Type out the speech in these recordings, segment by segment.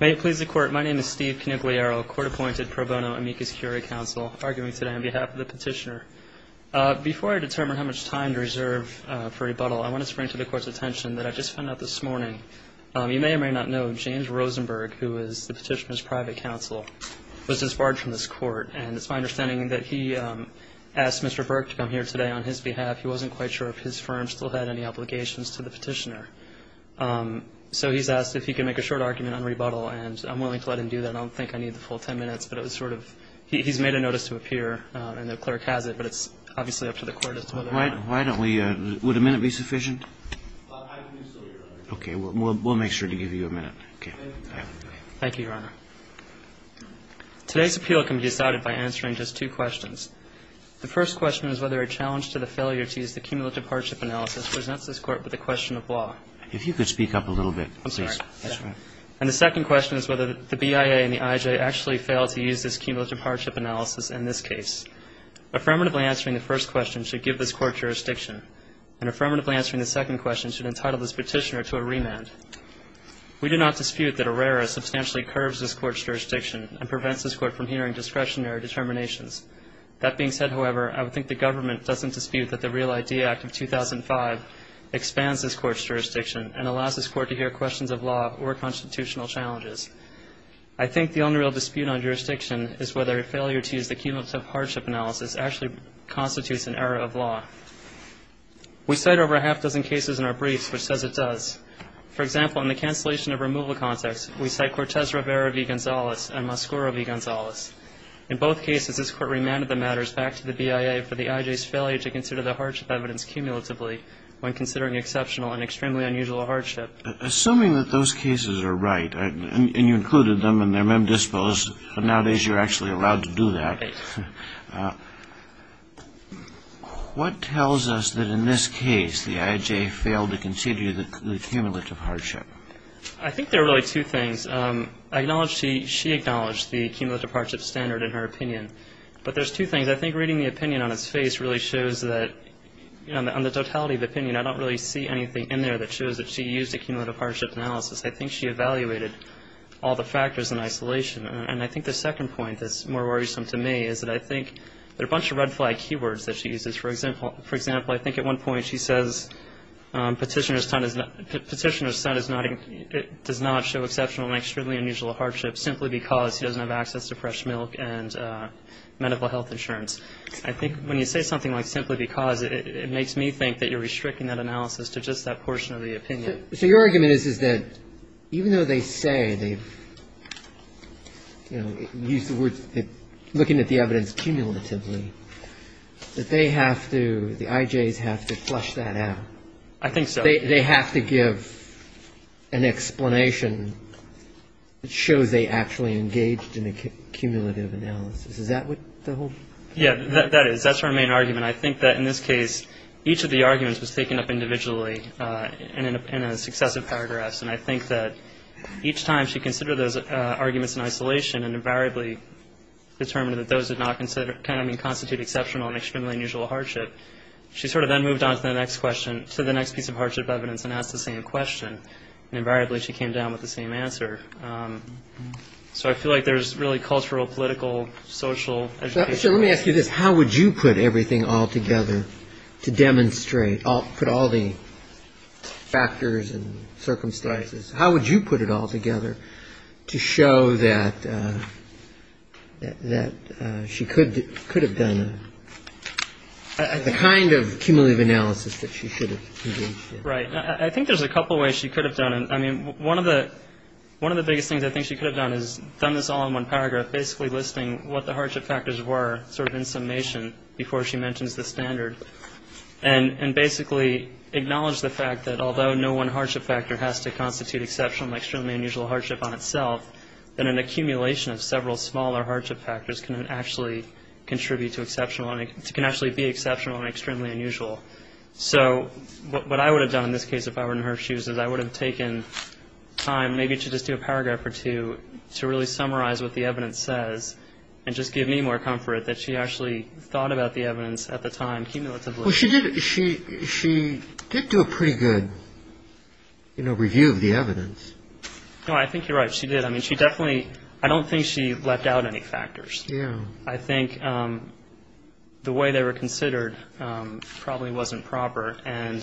May it please the court, my name is Steve Canigliaro, court-appointed pro bono amicus curia counsel, arguing today on behalf of the petitioner. Before I determine how much time to reserve for rebuttal, I want to spring to the court's attention that I just found out this morning. You may or may not know James Rosenberg, who is the petitioner's private counsel, was disbarred from this court, and it's my understanding that he asked Mr. Burke to come here today on his behalf. He wasn't quite sure if his firm still had any obligations to the petitioner. So he's asked if he can make a short argument on rebuttal, and I'm willing to let him do that. I don't think I need the full ten minutes, but it was sort of, he's made a notice to appear and the clerk has it, but it's obviously up to the court as to whether or not. Why don't we, would a minute be sufficient? Okay, we'll make sure to give you a minute. Okay. Thank you, Your Honor. Today's appeal can be decided by answering just two questions. The first question is whether a challenge to the failure to use the cumulative hardship analysis presents this court with a question of law. If you could speak up a little bit, please. And the second question is whether the BIA and the IJ actually fail to use this cumulative hardship analysis in this case. Affirmatively answering the first question should give this court jurisdiction, and affirmatively answering the second question should entitle this petitioner to a remand. We do not dispute that Herrera substantially curves this court's jurisdiction and prevents this court from hearing discretionary determinations. That being said, however, I would think the government doesn't dispute that the Real Idea Act of 2005 expands this court's jurisdiction and allows this court to hear questions of law or constitutional challenges. I think the only real dispute on jurisdiction is whether a failure to use the cumulative hardship analysis actually constitutes an error of law. We cite over a half dozen cases in our briefs which says it does. For example, in the cancellation of removal context, we cite Cortez Rivera v. Gonzalez and Mascuro v. Gonzalez. In both cases, this court remanded the matters back to the BIA for the IJ's failure to consider the hardship evidence cumulatively when considering exceptional and extremely unusual hardship. Assuming that those cases are right, and you included them and they're mem disposed, but nowadays you're actually allowed to do that, what tells us that in this case the IJ failed to consider the cumulative hardship? I think there are really two things. I acknowledge she acknowledged the cumulative hardship standard in her opinion, but there's two things. I think reading the opinion on its face really shows that on the totality of opinion, I don't really see anything in there that shows that she used a cumulative hardship analysis. I think she evaluated all the factors in isolation, and I think the second point that's more worrisome to me is that I think there are a bunch of red flag keywords that she uses. For example, I think at one point she says petitioner's son does not show exceptional and extremely unusual hardship simply because he doesn't have access to fresh milk and medical health insurance. I think when you say something like simply because, it makes me think that you're restricting that analysis to just that portion of the opinion. So your argument is that even though they say they've used the word looking at the evidence cumulatively, that they have to, the IJs have to flush that out. I think so. They have to give an explanation that shows they actually engaged in a cumulative analysis. Is that what the whole? Yeah, that is. That's our main argument. And I think that in this case, each of the arguments was taken up individually in successive paragraphs. And I think that each time she considered those arguments in isolation and invariably determined that those did not constitute exceptional and extremely unusual hardship, she sort of then moved on to the next question, to the next piece of hardship evidence and asked the same question. And invariably, she came down with the same answer. So I feel like there's really cultural, political, social education. Let me ask you this. How would you put everything all together to demonstrate all put all the factors and circumstances? How would you put it all together to show that that she could could have done the kind of cumulative analysis that she should have? Right. I think there's a couple of ways she could have done it. I mean, one of the one of the biggest things I think she could have done is done this all in one paragraph, basically listing what the hardship factors were sort of in summation before she mentions the standard. And basically acknowledge the fact that although no one hardship factor has to constitute exceptional, extremely unusual hardship on itself, that an accumulation of several smaller hardship factors can actually contribute to exceptional and can actually be exceptional and extremely unusual. So what I would have done in this case, if I were in her shoes, is I would have taken time, maybe to just do a paragraph or two to really summarize what the evidence says and just give me more comfort that she actually thought about the evidence at the time cumulatively. Well, she did. She she did do a pretty good review of the evidence. No, I think you're right. She did. I mean, she definitely I don't think she left out any factors. Yeah, I think the way they were considered probably wasn't proper. And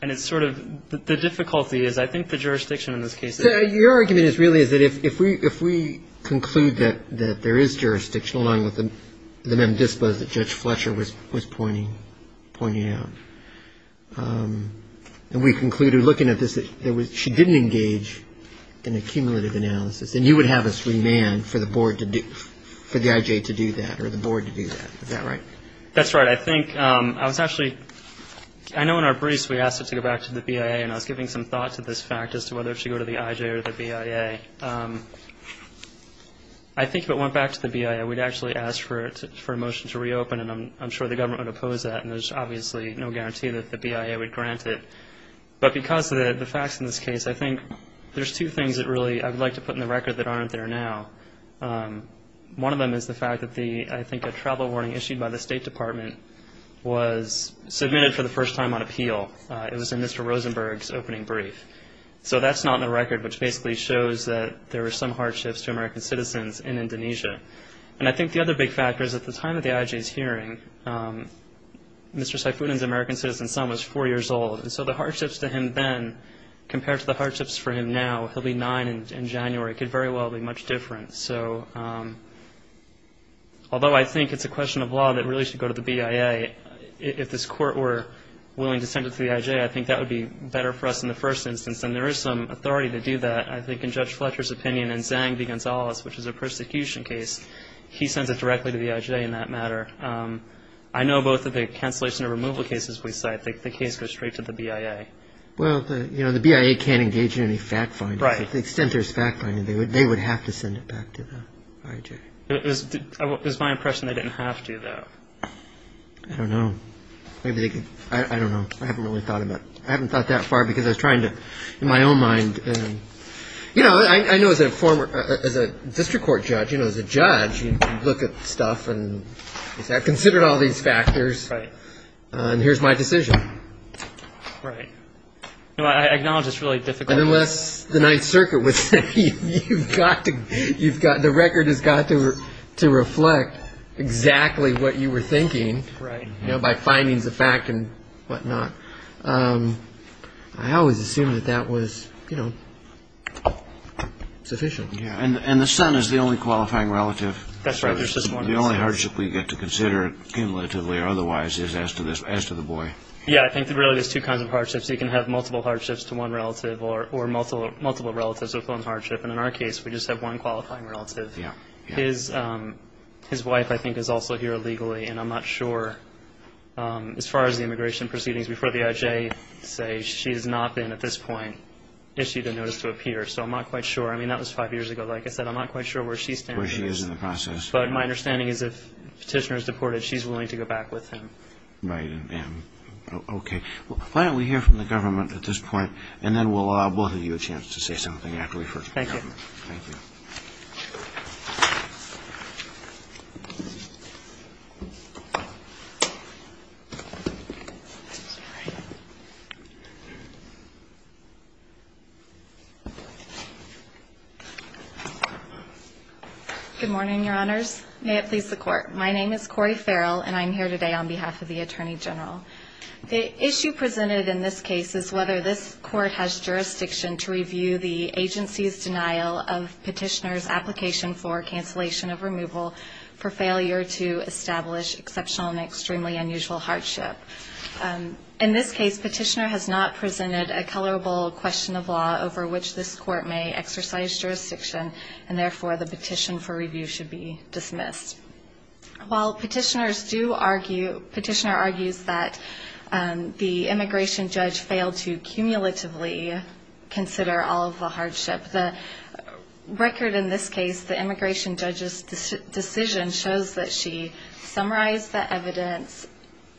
and it's sort of the difficulty is I think the jurisdiction in this case, your argument is really is that if we if we conclude that that there is jurisdiction along with them, the men dispose that Judge Fletcher was was pointing pointing out and we concluded looking at this, that she didn't engage in a cumulative analysis. And you would have us remand for the board to do for the IJ to do that or the board to do that. Is that right? That's right. I think I was actually I know in our briefs we asked her to go back to the BIA and I was giving some thought to this fact as to whether she go to the IJ or the BIA. I think it went back to the BIA. We'd actually ask for it for a motion to reopen. And I'm sure the government would oppose that. And there's obviously no guarantee that the BIA would grant it. But because of the facts in this case, I think there's two things that really I'd like to put in the record that aren't there now. One of them is the fact that the I think a travel warning issued by the State Department was submitted for the first time on appeal. It was in Mr. Rosenberg's opening brief. So that's not in the record, which basically shows that there are some hardships to American citizens in Indonesia. And I think the other big factor is at the time of the IJ's hearing, Mr. Seifuddin's American citizen son was four years old. And so the hardships to him then compared to the hardships for him now, he'll be nine in January, could very well be much different. So although I think it's a question of law that really should go to the BIA, if this court were willing to send it to the IJ, I think that would be better for us in the first instance. And there is some authority to do that. I think in Judge Fletcher's opinion and Zang v. Gonzalez, which is a persecution case, he sends it directly to the IJ in that matter. I know both of the cancellation and removal cases we cite, the case goes straight to the BIA. Well, you know, the BIA can't engage in any fact-finding, to the extent there's fact-finding, they would they would have to send it back to the IJ. It was my impression they didn't have to, though. I don't know. Maybe they could. I don't know. I haven't really thought about it. I haven't thought that far because I was trying to, in my own mind, you know, I know as a former, as a district court judge, you know, as a judge, you look at stuff and consider all these factors. Right. And here's my decision. Right. I acknowledge it's really difficult. But unless the Ninth Circuit would say you've got to, you've got the record has got to reflect exactly what you were thinking. Right. You know, by findings of fact and whatnot. I always assumed that that was, you know, sufficient. Yeah. And the son is the only qualifying relative. That's right. The only hardship we get to consider cumulatively or otherwise is as to this, as to the boy. Yeah, I think there really is two kinds of hardships. You can have multiple hardships to one relative or or multiple multiple relatives with one hardship. And in our case, we just have one qualifying relative. Yeah. His his wife, I think, is also here illegally. And I'm not sure as far as the immigration proceedings before the IJ say she has not been at this point issued a notice to appear. So I'm not quite sure. I mean, that was five years ago. Like I said, I'm not quite sure where she's where she is in the process. But my understanding is if petitioner is deported, she's willing to go back with him. Right. And OK, why don't we hear from the government at this point and then we'll we'll give you a chance to say something after we first thank you. Good morning, your honors. May it please the court. My name is Corey Farrell and I'm here today on behalf of the attorney general. The issue presented in this case is whether this court has jurisdiction to review the agency's denial of petitioner's application for cancellation of removal for failure to establish exceptional and extremely unusual hardship. In this case, petitioner has not presented a colorable question of law over which this court may exercise jurisdiction and therefore the petition for review should be dismissed. While petitioners do argue, petitioner argues that the immigration judge failed to cumulatively consider all of the hardship, the record in this case, the immigration judge's decision shows that she summarized the evidence,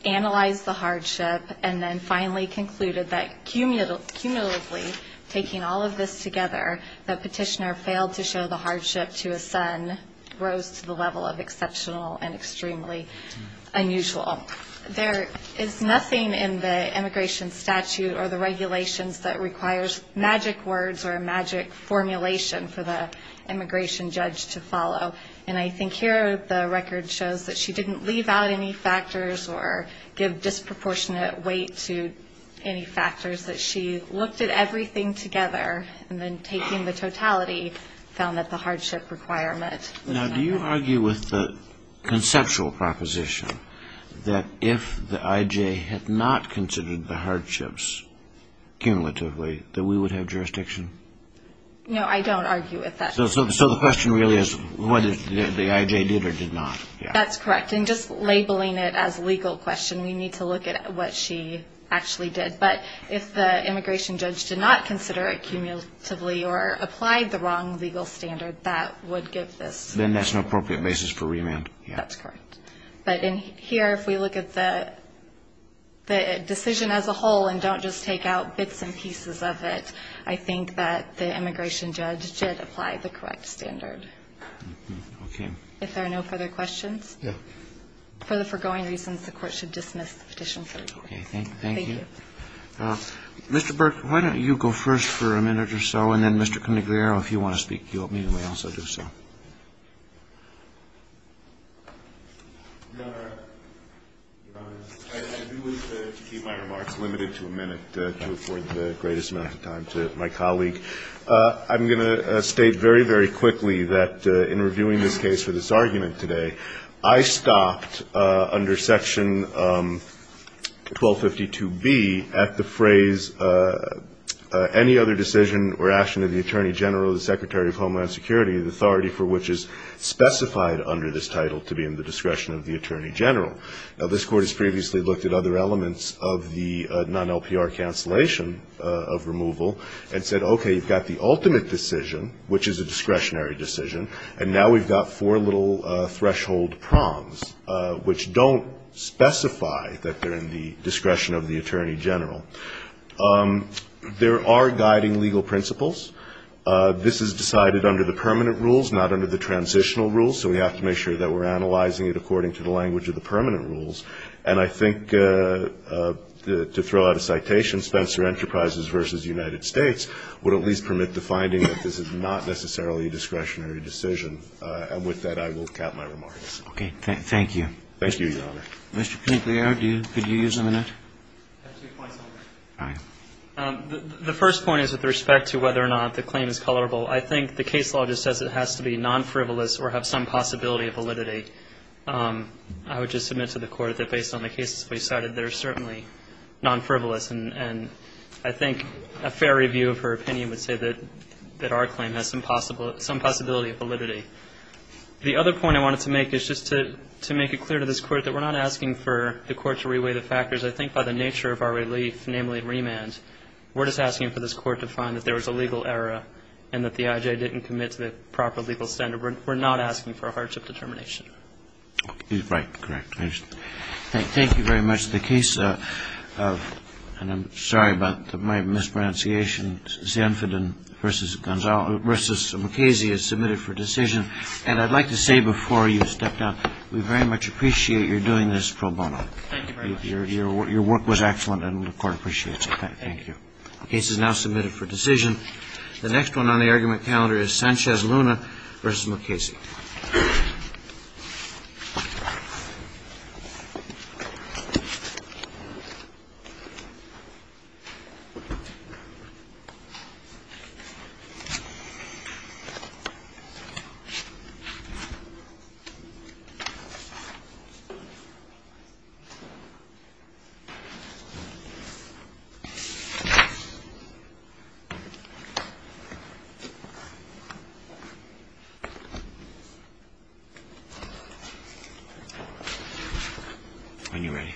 analyzed the hardship and then finally concluded that cumulatively taking all of this together, that petitioner failed to show the hardship to a son rose to the level of exceptional and extremely unusual. There is nothing in the immigration statute or the regulations that requires magic words or a magic formulation for the immigration judge to follow. And I think here the record shows that she didn't leave out any factors or give disproportionate weight to any factors that she looked at everything together and then taking the totality found that the hardship requirement. Now do you argue with the conceptual proposition that if the IJ had not considered the hardships cumulatively that we would have jurisdiction? No, I don't argue with that. So the question really is whether the IJ did or did not. That's correct. And just labeling it as a legal question, we need to look at what she actually did. But if the immigration judge did not consider it cumulatively or applied the wrong legal standard, that would give this. Then that's an appropriate basis for remand. Yeah, that's correct. But in here, if we look at the decision as a whole and don't just take out bits and pieces of it, I think that the immigration judge did apply the correct standard. If there are no further questions for the foregoing reasons, the court should dismiss the petition. Thank you. Mr. Burke, why don't you go first for a minute or so? And then, Mr. Conigliaro, if you want to speak, you'll also do so. I do want to keep my remarks limited to a minute to afford the greatest amount of time to my colleague. I'm going to state very, very quickly that in reviewing this case for this argument today, I stopped under Section 1252B at the phrase, any other decision or action of the Attorney General or the Secretary of Homeland Security, the authority for which is specified under this title, to be in the discretion of the Attorney General. Now, this court has previously looked at other elements of the non-LPR cancellation of removal and said, OK, you've got the ultimate decision, which is a discretionary decision. And now we've got four little threshold prongs, which don't specify that they're in the discretion of the Attorney General. There are guiding legal principles. This is decided under the permanent rules, not under the transitional rules. So we have to make sure that we're analyzing it according to the language of the permanent rules. And I think, to throw out a citation, Spencer Enterprises versus United States would at least permit the finding that this is not necessarily a discretionary decision. And with that, I will cap my remarks. Thank you. Thank you, Your Honor. Mr. Pinckley, could you use a minute? I have two points on that. All right. The first point is with respect to whether or not the claim is colorable. I think the case law just says it has to be non-frivolous or have some possibility of validity. I would just submit to the Court that based on the cases we cited, they're certainly non-frivolous. And I think a fair review of her opinion would say that our claim has some possibility of validity. The other point I wanted to make is just to make it clear to this Court that we're not asking for the Court to reweigh the factors. I think by the nature of our relief, namely remand, we're just asking for this Court to find that there was a legal error and that the I.J. didn't commit to the proper legal standard. We're not asking for a hardship determination. Right. Correct. Thank you very much. I have two questions. The first is the case of – and I'm sorry about my mispronunciation – Zinfand v. MacCasey is submitted for decision. And I'd like to say before you step down, we very much appreciate your doing this pro bono. Thank you very much. Your work was excellent and the Court appreciates it. Thank you. The case is now submitted for decision. The next one on the argument calendar is Sanchez-Luna v. MacCasey. When you're ready.